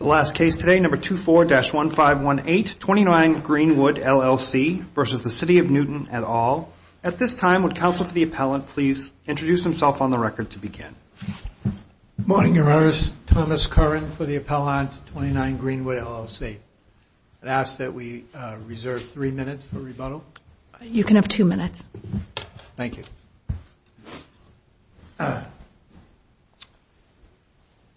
Number 24-1518, 29 Greenwood, LLC v. City of Newton, et al. At this time, would counsel for the appellant please introduce himself on the record to begin. Good morning, Your Honor. Thomas Curran for the appellant, 29 Greenwood, LLC. I ask that we reserve three minutes for rebuttal. You can have two minutes. Thank you.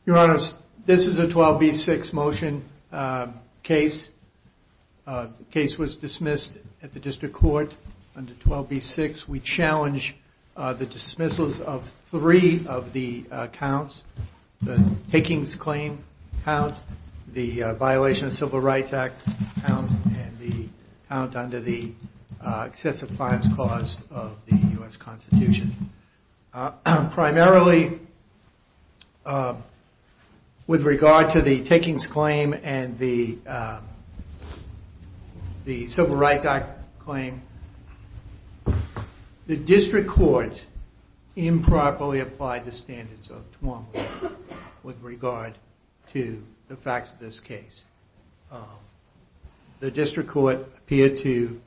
Your Honor, this is a 12B6 motion case. The case was dismissed at the district court under 12B6. We challenge the dismissals of three of the counts. The takings claim count, the violation of Civil Rights Act count, and the count under the excessive fines clause of the U.S. Constitution. Primarily, with regard to the takings claim and the Civil Rights Act claim, the district court improperly applied the standards of 12B6 with regard to the facts of this case. The district court appeared to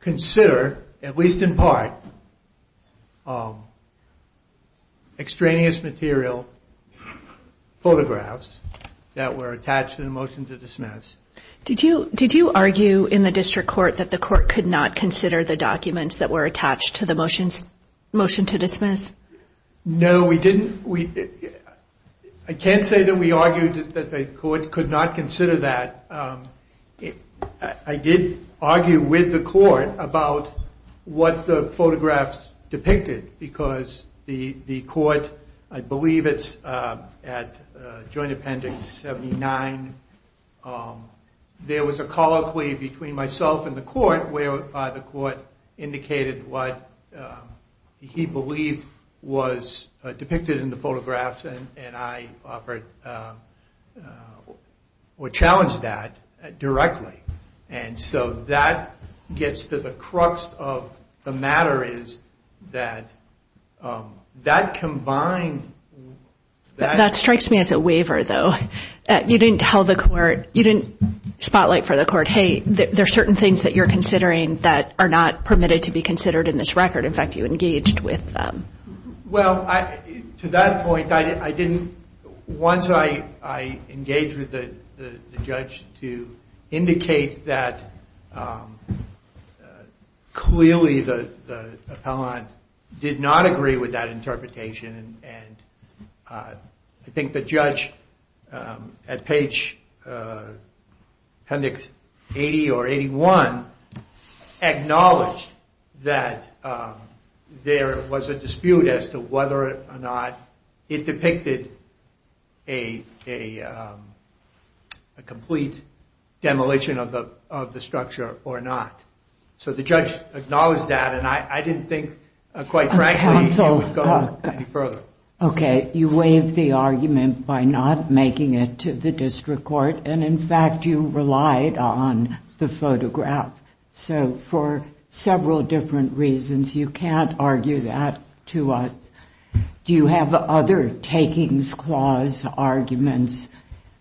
consider, at least in part, extraneous material photographs that were attached to the motion to dismiss. Did you argue in the district court that the court could not consider the documents that were attached to the motion to dismiss? No, we didn't. I can't say that we argued that the court could not consider that. I did argue with the court about what the photographs depicted, because the court, I believe it's at Joint Appendix 79, there was a colloquy between myself and the court where the court indicated what he believed was depicted in the photographs and I offered or challenged that directly. And so that gets to the crux of the matter is that that combined... That strikes me as a waiver, though. You didn't tell the court, you didn't spotlight for the court, hey, there are certain things that you're considering that are not permitted to be considered in this record. In fact, you engaged with them. Well, to that point, once I engaged with the judge to indicate that clearly the appellant did not agree with that interpretation and at page Appendix 80 or 81 acknowledged that there was a dispute as to whether or not it depicted a complete demolition of the structure or not. So the judge acknowledged that and I didn't think quite frankly it would go any further. Okay, you waived the argument by not making it to the district court and in fact you relied on the photograph. So for several different reasons, you can't argue that to us. Do you have other takings clause arguments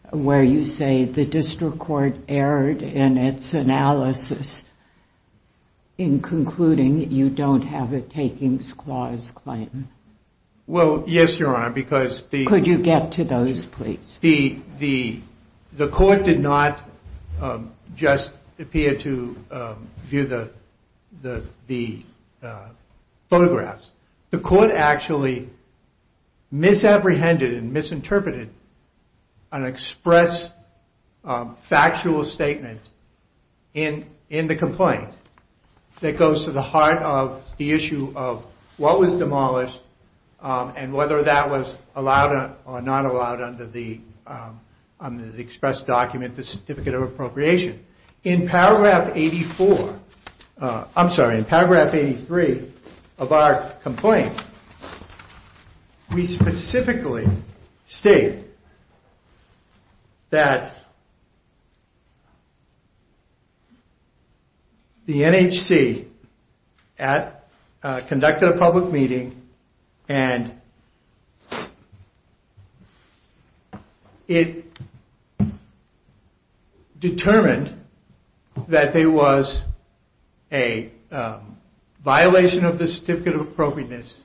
where you say the district court erred in its analysis in concluding you don't have a takings clause claim? Well, yes, Your Honor, because the... Could you get to those, please? The court did not just appear to view the photographs. The court actually misapprehended and misinterpreted an express factual statement in the complaint that goes to the heart of the issue of what was demolished and whether that was allowed or not allowed under the express document, the Certificate of Appropriation. In paragraph 83 of our complaint, we specifically state that the NHC conducted a public meeting and it determined that there was a violation of the Certificate of Appropriateness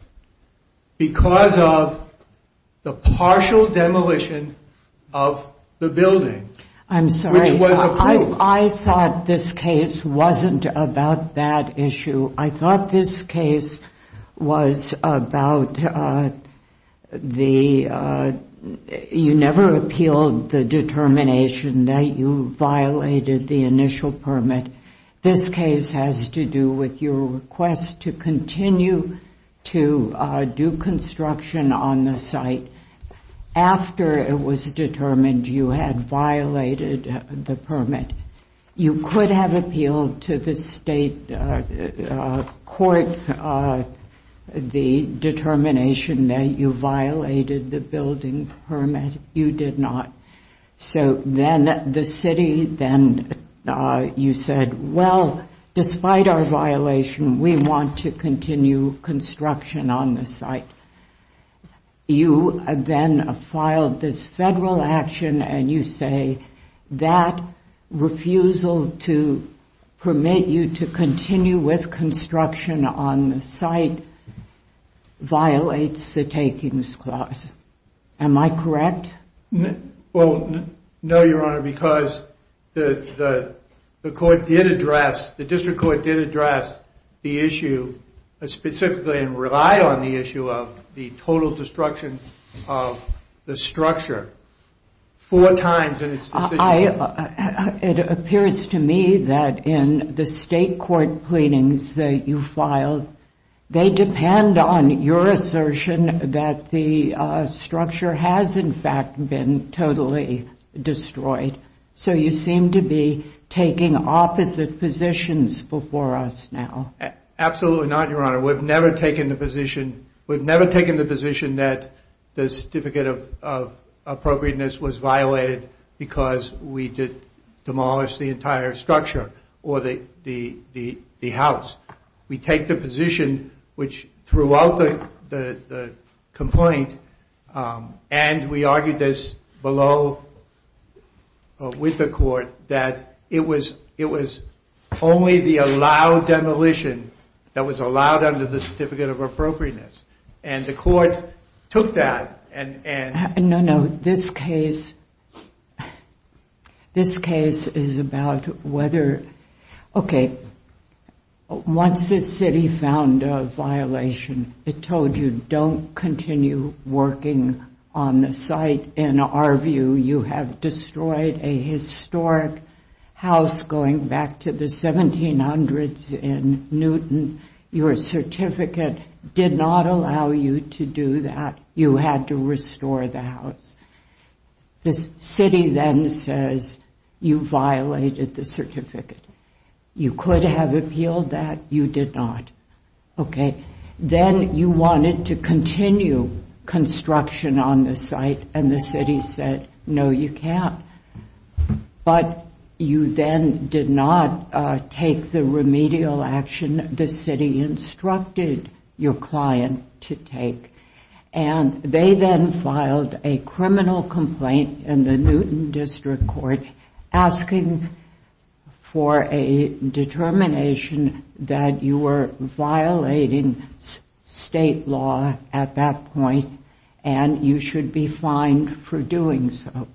because of the partial demolition of the building, which was approved. I'm sorry, I thought this case wasn't about that issue. I thought this case was about the... You never appealed the determination that you violated the initial permit. This case has to do with your request to continue to do construction on the site after it was determined you had violated the permit. You could have appealed to the state court the determination that you violated the building permit. You did not. So then the city, then you said, well, despite our violation, we want to continue construction on the site. You then filed this federal action and you say that refusal to permit you to continue with construction on the site violates the takings clause. Am I correct? Well, no, Your Honor, because the court did address, the district court did address the issue specifically and rely on the issue of the total destruction of the structure four times in its decision. It appears to me that in the state court pleadings that you filed, they depend on your assertion that the structure has in fact been totally destroyed. So you seem to be taking opposite positions before us now. Absolutely not, Your Honor. We've never taken the position that the certificate of appropriateness was violated because we did demolish the entire structure or the house. We take the position which throughout the complaint and we argued this below with the court that it was only the allowed demolition that was allowed under the certificate of appropriateness. And the court took that and... No, no, this case is about whether... Okay, once the city found a violation, it told you don't continue working on the site. In our view, you have destroyed a historic house going back to the 1700s in Newton. Your certificate did not allow you to do that. You had to restore the house. The city then says you violated the certificate. You could have appealed that, you did not. Then you wanted to continue construction on the site and the city said no, you can't. But you then did not take the remedial action the city instructed your client to take. They then filed a criminal complaint in the Newton District Court asking for a determination that you were violating state law at that point and you should be fined for doing so.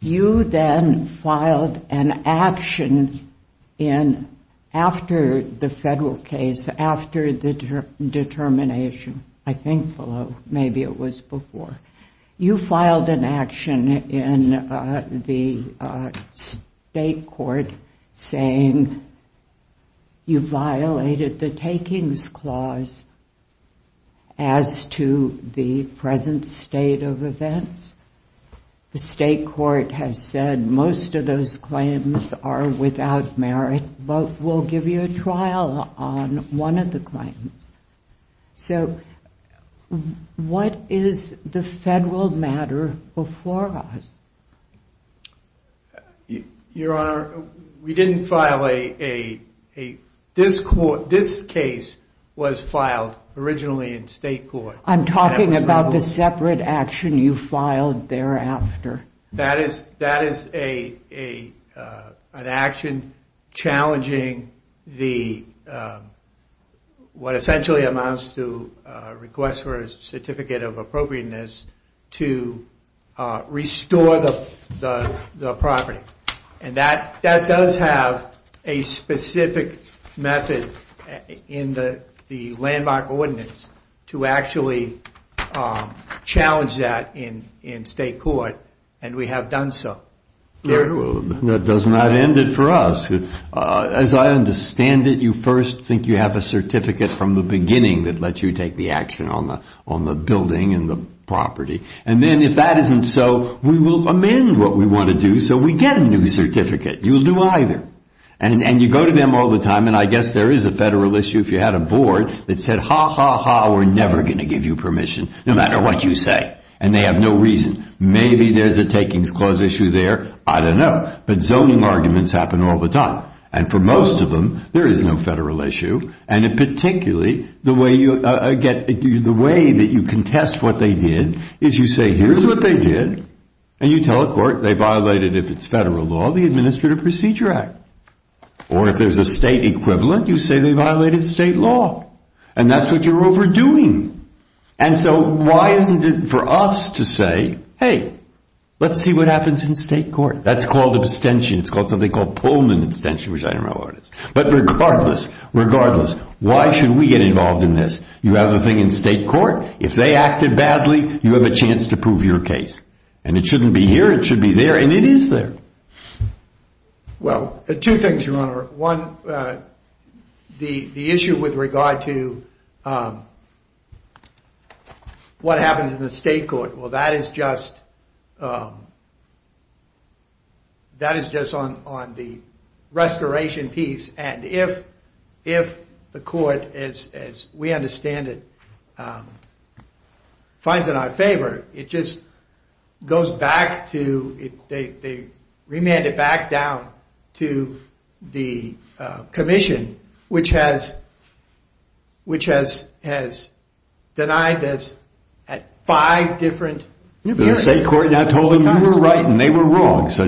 You then filed an action after the federal case, after the determination, I think, maybe it was before. You filed an action in the state court saying you violated the takings clause as to the present state of events. The state court has said most of those claims are without merit but we'll give you a trial on one of the claims. What is the federal matter before us? Your Honor, we didn't file a... This case was filed originally in state court. I'm talking about the separate action you filed thereafter. That is an action challenging what essentially amounts to a request for a certificate of appropriateness to restore the property. That does have a specific method in the landmark ordinance to actually challenge that in state court and we have done so. That does not end it for us. As I understand it, you first think you have a certificate from the beginning that lets you take the action on the building and the property. Then if that isn't so, we will amend what we want to do so we get a new certificate. You'll do either and you go to them all the time and I guess there is a federal issue if you had a board that said ha, ha, ha, we're never going to give you permission no matter what you say and they have no reason. Maybe there's a takings clause issue there, I don't know. But zoning arguments happen all the time and for most of them there is no federal issue and particularly the way that you contest what they did is you say here's what they did and you tell the court they violated, if it's federal law, the Administrative Procedure Act or if there's a state equivalent, you say they violated state law and that's what you're overdoing. So why isn't it for us to say, hey, let's see what happens in state court. That's called abstention. It's called something called Pullman abstention, which I don't know what it is. But regardless, why should we get involved in this? You have a thing in state court. If they acted badly, you have a chance to prove your case. And it shouldn't be here, it should be there and it is there. Well, two things, Your Honor. One, the issue with regard to what happens in the state court. Well, that is just on the restoration piece and if the court, as we understand it, finds it in our favor, it just goes back to, they remand it back down to the commission, which has denied us at five different periods. So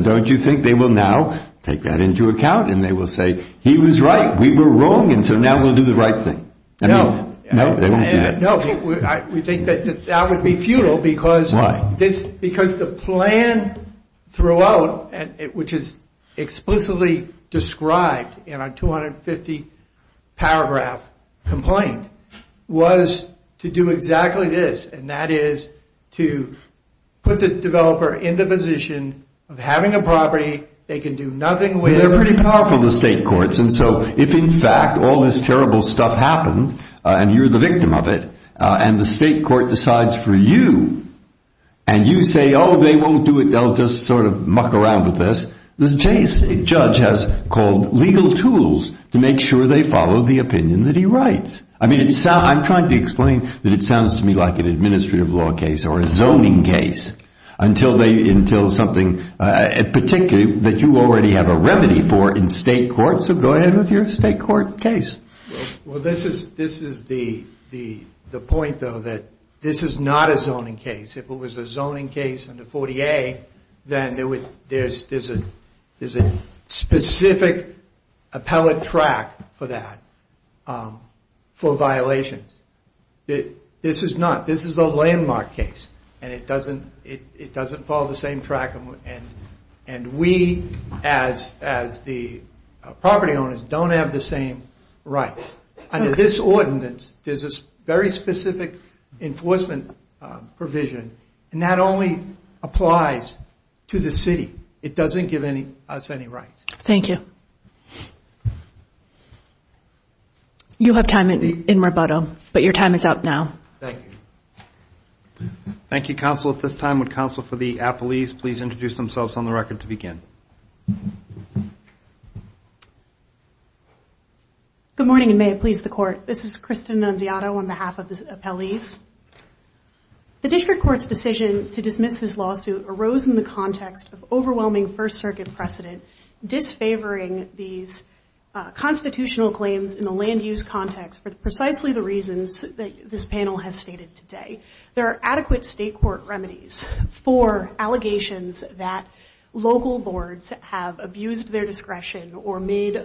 don't you think they will now take that into account and they will say, he was right, we were wrong, and so now we'll do the right thing. No. We think that would be futile because the plan throughout, which is explicitly described in our 250 paragraph complaint, was to do exactly this, and that is to put the developer in the position of having a property they can do nothing with. They're pretty powerful, the state courts, and so if in fact all this terrible stuff happened and you're the victim of it and the state court decides for you and you say, oh, they won't do it, they'll just sort of muck around with this. The judge has called legal tools to make sure they follow the opinion that he writes. I mean, I'm trying to explain that it sounds to me like an administrative law case or a zoning case until something, particularly that you already have a remedy for in state court, so go ahead with your state court case. Well, this is the point, though, that this is not a zoning case. If it was a zoning case under 40A, then there's a specific appellate track for that, for violations. This is not. This is a landmark case and it doesn't follow the same track and we, as the property owners, don't have the same rights. Under this ordinance, there's a very specific enforcement provision and that only applies to the city. It doesn't give us any rights. Thank you. You'll have time in rebuttal, but your time is up now. Thank you, counsel. At this time, would counsel for the appellees please introduce themselves on the record to begin? Good morning and may it please the court. This is Kristen Nunziato on behalf of the appellees. The district court's decision to dismiss this lawsuit arose in the context of overwhelming First Circuit precedent, disfavoring these constitutional claims in the land use context for precisely the reasons that this panel has stated today. There are adequate state court remedies for allegations that local boards have abused their discretion or made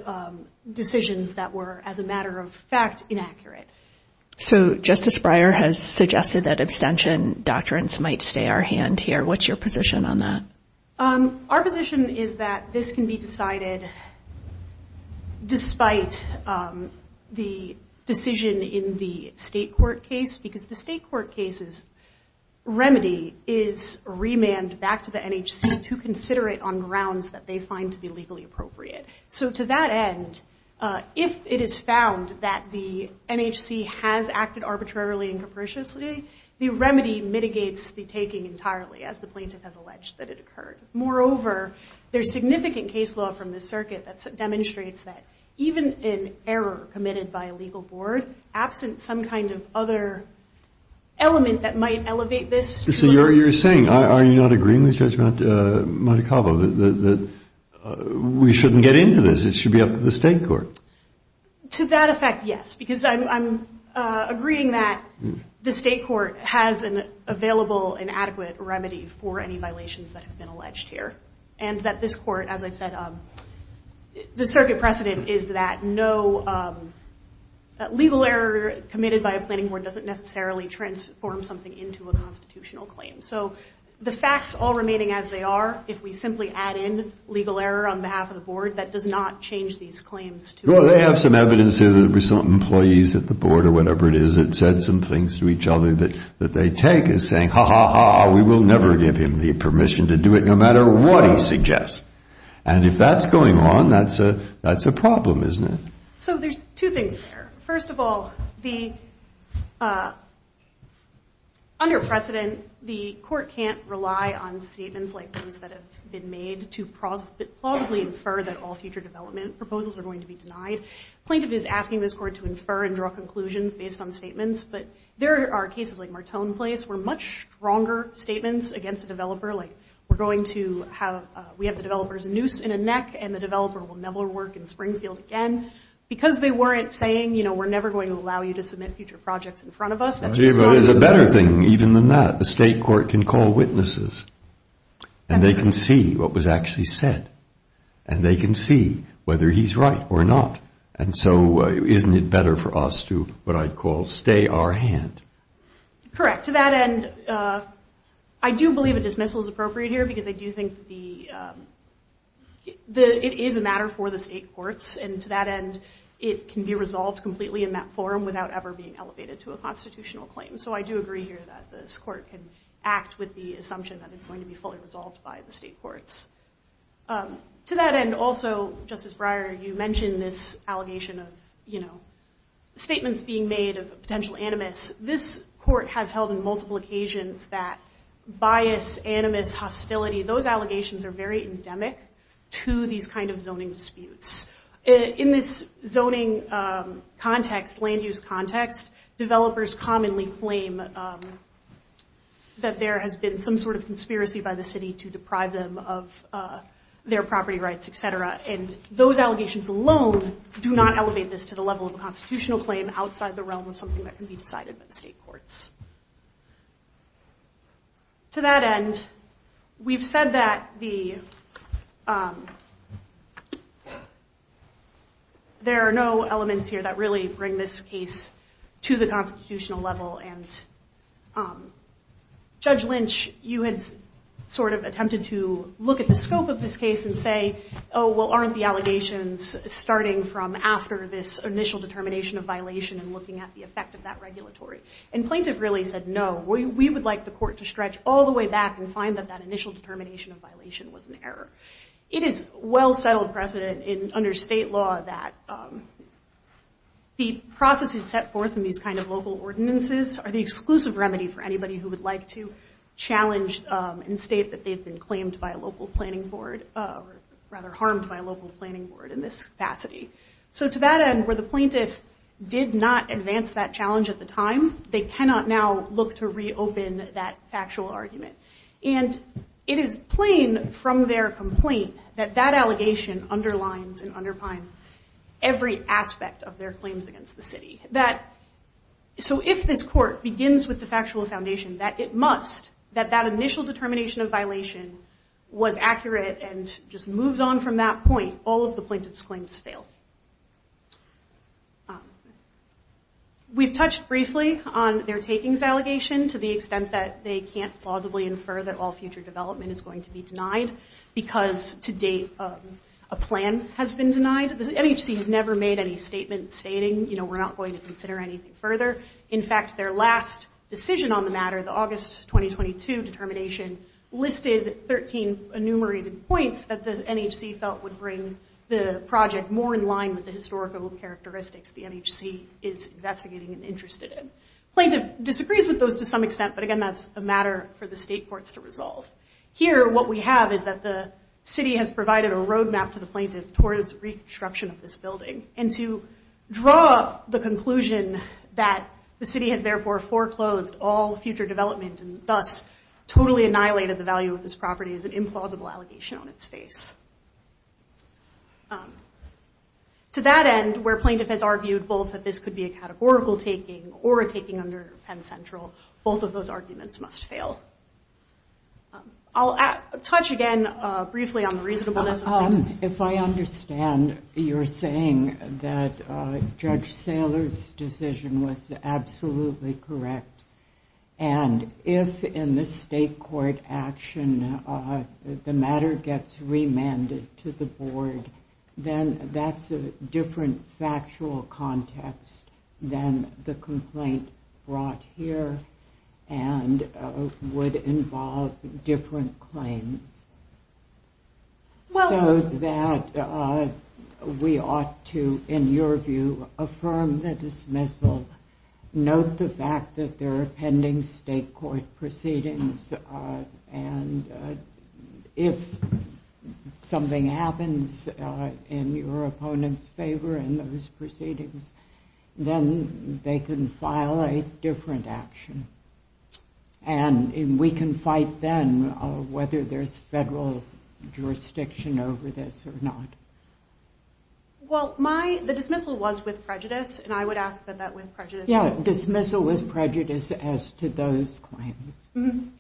decisions that were, as a matter of fact, inaccurate. So Justice Breyer has suggested that abstention doctrines might stay our hand here. What's your position on that? Our position is that this can be decided despite the decision in the state court case, because the state court case's remedy is remanded back to the NHC to consider it on grounds that they find to be legally appropriate. So to that end, if it is found that the NHC has acted arbitrarily and capriciously, the remedy mitigates the taking entirely, as the plaintiff has alleged that it occurred. Moreover, there's significant case law from the circuit that demonstrates that even an error committed by a legal board, absent some kind of other element that might elevate this to a... So you're saying, are you not agreeing with Judge Montecalvo that we shouldn't get into this? It should be up to the state court. To that effect, yes, because I'm agreeing that the state court has an available and adequate remedy for any violations that have been alleged here. And that this court, as I've said, the circuit precedent is that no legal error committed by a planning board doesn't necessarily transform something into a constitutional claim. So the facts all remaining as they are, if we simply add in legal error on behalf of the board, that does not change these claims. Well, they have some evidence here that some employees at the board or whatever it is that said some things to each other that they take as saying, ha, ha, ha, we will never give him the permission to do it, no matter what he suggests. And if that's going on, that's a problem, isn't it? So there's two things there. First of all, under precedent, the court can't rely on statements like these that have been made to plausibly infer that all future development proposals are going to be denied. Plaintiff is asking this court to infer and draw conclusions based on statements, but there are cases like Martone Place where much stronger statements against a developer, like we're going to have, we have the developer's noose in a neck and the developer will never work in Springfield again, because they weren't saying, you know, we're never going to allow you to submit future projects in front of us. But there's a better thing even than that. The state court can call witnesses and they can see what was actually said and they can see whether he's right or not. And so isn't it better for us to what I'd call stay our hand? Correct. To that end, I do believe a dismissal is appropriate here because I do think it is a matter for the state courts. And to that end, it can be resolved completely in that forum without ever being elevated to a constitutional claim. So I do agree here that this court can act with the assumption that it's going to be fully resolved by the state courts. To that end, also, Justice Breyer, you mentioned this allegation of, you know, statements being made of potential animus. This court has held on multiple occasions that bias, animus, hostility, those allegations are very endemic to these kind of zoning disputes. In this zoning context, land use context, developers commonly claim that there has been some sort of conspiracy by the city to deprive them of their property rights, et cetera. And those allegations alone do not elevate this to the level of a constitutional claim outside the realm of something that can be decided by the state courts. To that end, we've said that there are no elements here that really bring this case to the constitutional level. And Judge Lynch, you had sort of attempted to look at the scope of this case and say, oh, well, aren't the allegations starting from after this initial determination of violation and looking at the effect of that regulatory? And plaintiff really said, no, we would like the court to stretch all the way back and find that that initial determination of violation was an error. It is well settled precedent under state law that the processes set forth in these kind of local ordinances are the exclusive remedy for anybody who would like to challenge and state that they've been claimed by a local planning board, or rather harmed by a local planning board in this capacity. So to that end, where the plaintiff did not advance that challenge at the time, they cannot now look to reopen that factual argument. And it is plain from their complaint that that allegation underlines and underpins every aspect of their claims against the city. So if this court begins with the factual foundation that it must, that that initial determination of violation was accurate and just moved on from that point, all of the plaintiff's claims fail. We've touched briefly on their takings allegation to the extent that they can't plausibly infer that all future development is going to be denied because to date a plan has been denied. The MHC has never made any statement stating, you know, we're not going to consider anything further. In fact, their last decision on the matter, the August 2022 determination, listed 13 enumerated points that the MHC felt would bring the project more in line with the historical characteristics the MHC is investigating and interested in. Plaintiff disagrees with those to some extent, but again, that's a matter for the state courts to resolve. Here, what we have is that the city has provided a roadmap to the plaintiff towards reconstruction of this building and to draw the conclusion that the city has therefore foreclosed all future development and thus totally annihilated the value of this property is an implausible allegation on its face. To that end, where plaintiff has argued both that this could be a categorical taking or a taking under Penn Central, both of those arguments must fail. I'll say one more thing that Judge Saylor's decision was absolutely correct. And if in the state court action the matter gets remanded to the board, then that's a different factual context than the complaint brought here and would involve different claims. So that we ought to, in your view, affirm the dismissal, note the fact that there are pending state court proceedings, and if something happens in your opponent's favor in those proceedings, then they can file a different action. And we can fight then whether there's federal jurisdiction over this or not. Well, the dismissal was with prejudice, and I would ask that that with prejudice... Yeah, dismissal with prejudice as to those claims.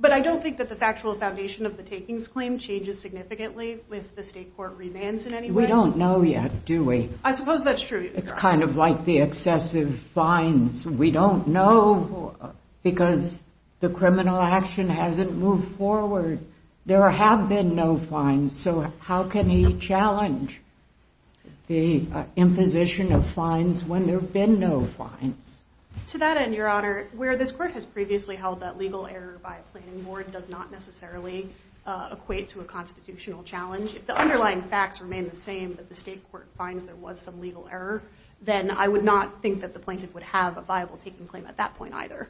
But I don't think that the factual foundation of the takings claim changes significantly with the state court remands in any way. Well, we don't know yet, do we? I suppose that's true, Your Honor. It's kind of like the excessive fines. We don't know because the criminal action hasn't moved forward. There have been no fines, so how can he challenge the imposition of fines when there have been no fines? To that end, Your Honor, where this court has previously held that legal error by a planning board does not necessarily equate to a constitutional challenge, if the underlying facts remain the same, but the state court finds there was some legal error, then I would not think that the plaintiff would have a viable taking claim at that point either.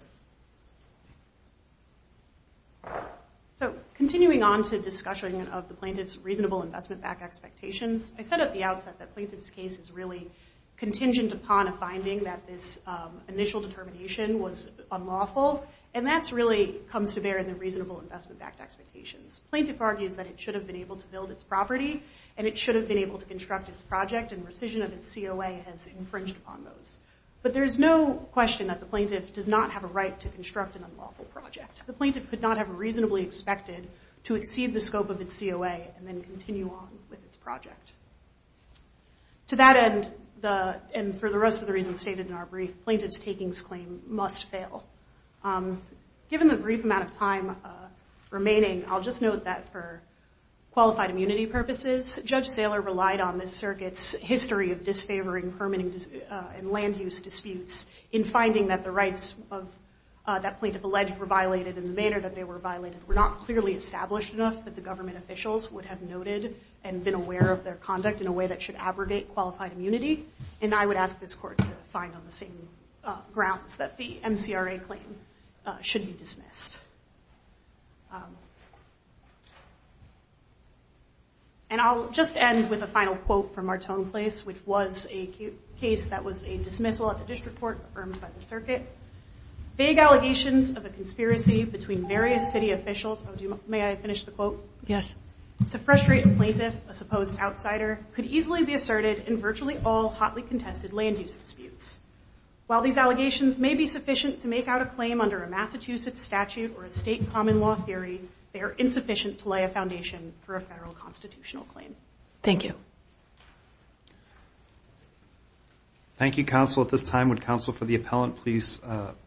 So continuing on to discussion of the plaintiff's reasonable investment-backed expectations, I said at the outset that the plaintiff's case is really contingent upon a finding that this judicial determination was unlawful, and that really comes to bear in the reasonable investment-backed expectations. The plaintiff argues that it should have been able to build its property, and it should have been able to construct its project, and rescission of its COA has infringed upon those. But there is no question that the plaintiff does not have a right to construct an unlawful project. The plaintiff could not have reasonably expected to exceed the scope of its COA and then continue on with its project. To that end, and for the rest of the reasons stated in our brief, plaintiff's takings claim must fail. Given the brief amount of time remaining, I'll just note that for qualified immunity purposes, Judge Saylor relied on the circuit's history of disfavoring permitting and land use disputes in finding that the rights that plaintiff alleged were violated in the manner that they were violated were not clearly established enough that the government officials would have noted and been aware of their conduct in a way that should abrogate qualified immunity. And I would ask this Court to find on the same grounds that the MCRA claim should be dismissed. And I'll just end with a final quote from Martone Place, which was a case that was a dismissal at the district court affirmed by the circuit. May I finish the quote? While these allegations may be sufficient to make out a claim under a Massachusetts statute or a state common law theory, they are insufficient to lay a foundation for a federal constitutional claim. Thank you. Thank you, Counsel. At this time, would Counsel for the Appellant please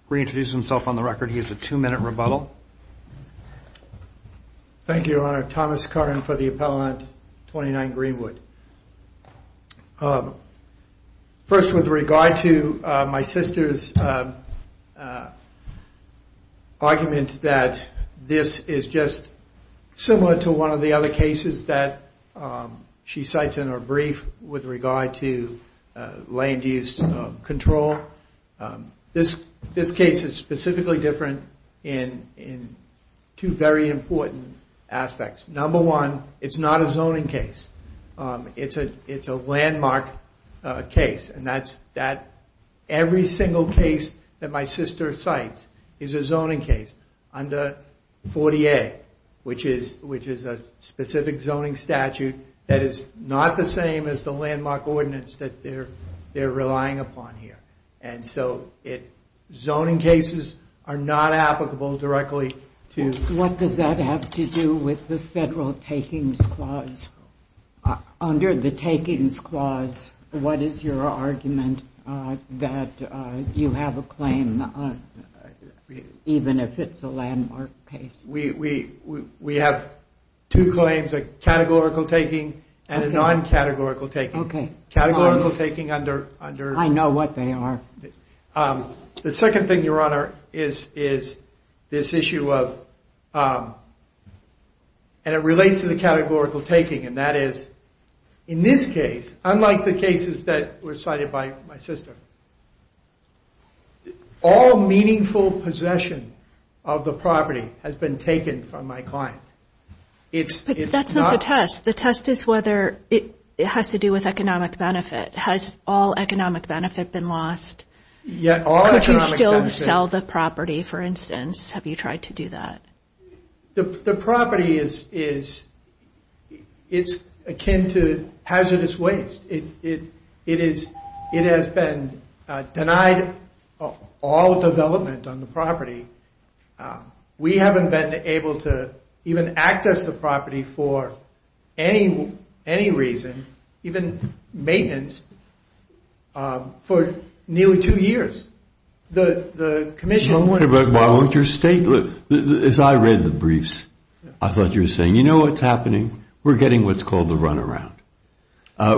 reintroduce himself on the record? He has a two-minute rebuttal. Thank you, Your Honor. Thomas Curran for the Appellant, 29 Greenwood. First, with regard to my sister's argument that this is just similar to one of the other cases that she cites in her brief with regard to land use control. This case is specifically different in two very important aspects. Number one, it's not a zoning case. It's a landmark case. And every single case that my sister cites is a zoning case under 40A, which is a specific zoning statute that is not the same as the landmark ordinance that they're relying upon here. And so zoning cases are not applicable directly to... What does that have to do with the federal takings clause? Under the takings clause, what is your argument that you have a claim, even if it's a landmark case? We have two claims, a categorical taking and a non-categorical taking. Okay. I know what they are. The second thing, Your Honor, is this issue of... And it relates to the categorical taking, and that is, in this case, unlike the cases that were cited by my sister, all meaningful possession of the property has been taken from my client. But that's not the test. The test is whether it has to do with economic benefit. Has all economic benefit been lost? Could you still sell the property, for instance? Have you tried to do that? The property is akin to hazardous waste. It has been denied all development on the property. We haven't been able to even access the property for any reason, even maintenance, for nearly two years. The commission... As I read the briefs, I thought you were saying, you know what's happening? We're getting what's called the runaround.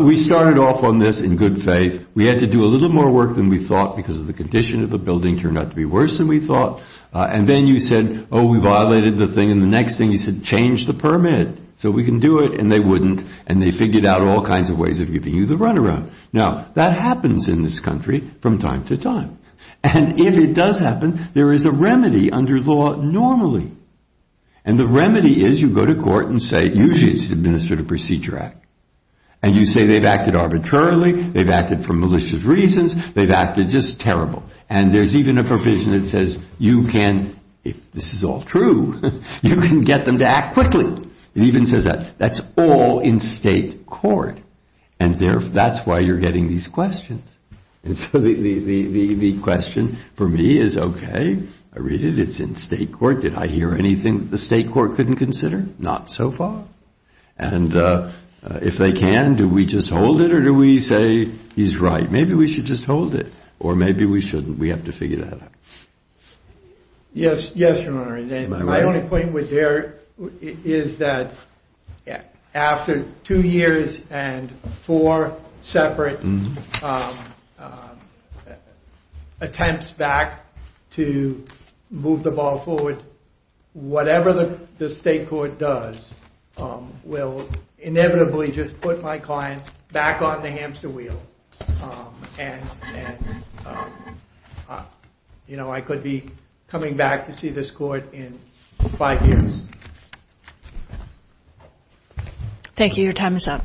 We started off on this in good faith. We had to do a little more work than we thought because of the condition of the building turned out to be worse than we thought. And then you said, oh, we violated the thing, and the next thing you said, change the permit so we can do it. And they wouldn't, and they figured out all kinds of ways of giving you the runaround. Now, that happens in this country from time to time. And if it does happen, there is a remedy under law normally. And the remedy is you go to court and say, usually it's the Administrative Procedure Act. And you say they've acted arbitrarily, they've acted for malicious reasons, they've acted just terrible. And there's even a provision that says you can, if this is all true, you can get them to act quickly. It even says that that's all in state court. And that's why you're getting these questions. And so the question for me is, OK, I read it, it's in state court, did I hear anything that the state court couldn't consider? Not so far. And if they can, do we just hold it or do we say, he's right, maybe we should just hold it. Or maybe we shouldn't, we have to figure that out. My only point with Derek is that after two years and four separate attempts back to move the ball forward, whatever the state court does will inevitably just put my client back on the hamster wheel. And I could be coming back to see this court in five years. Thank you, your time is up.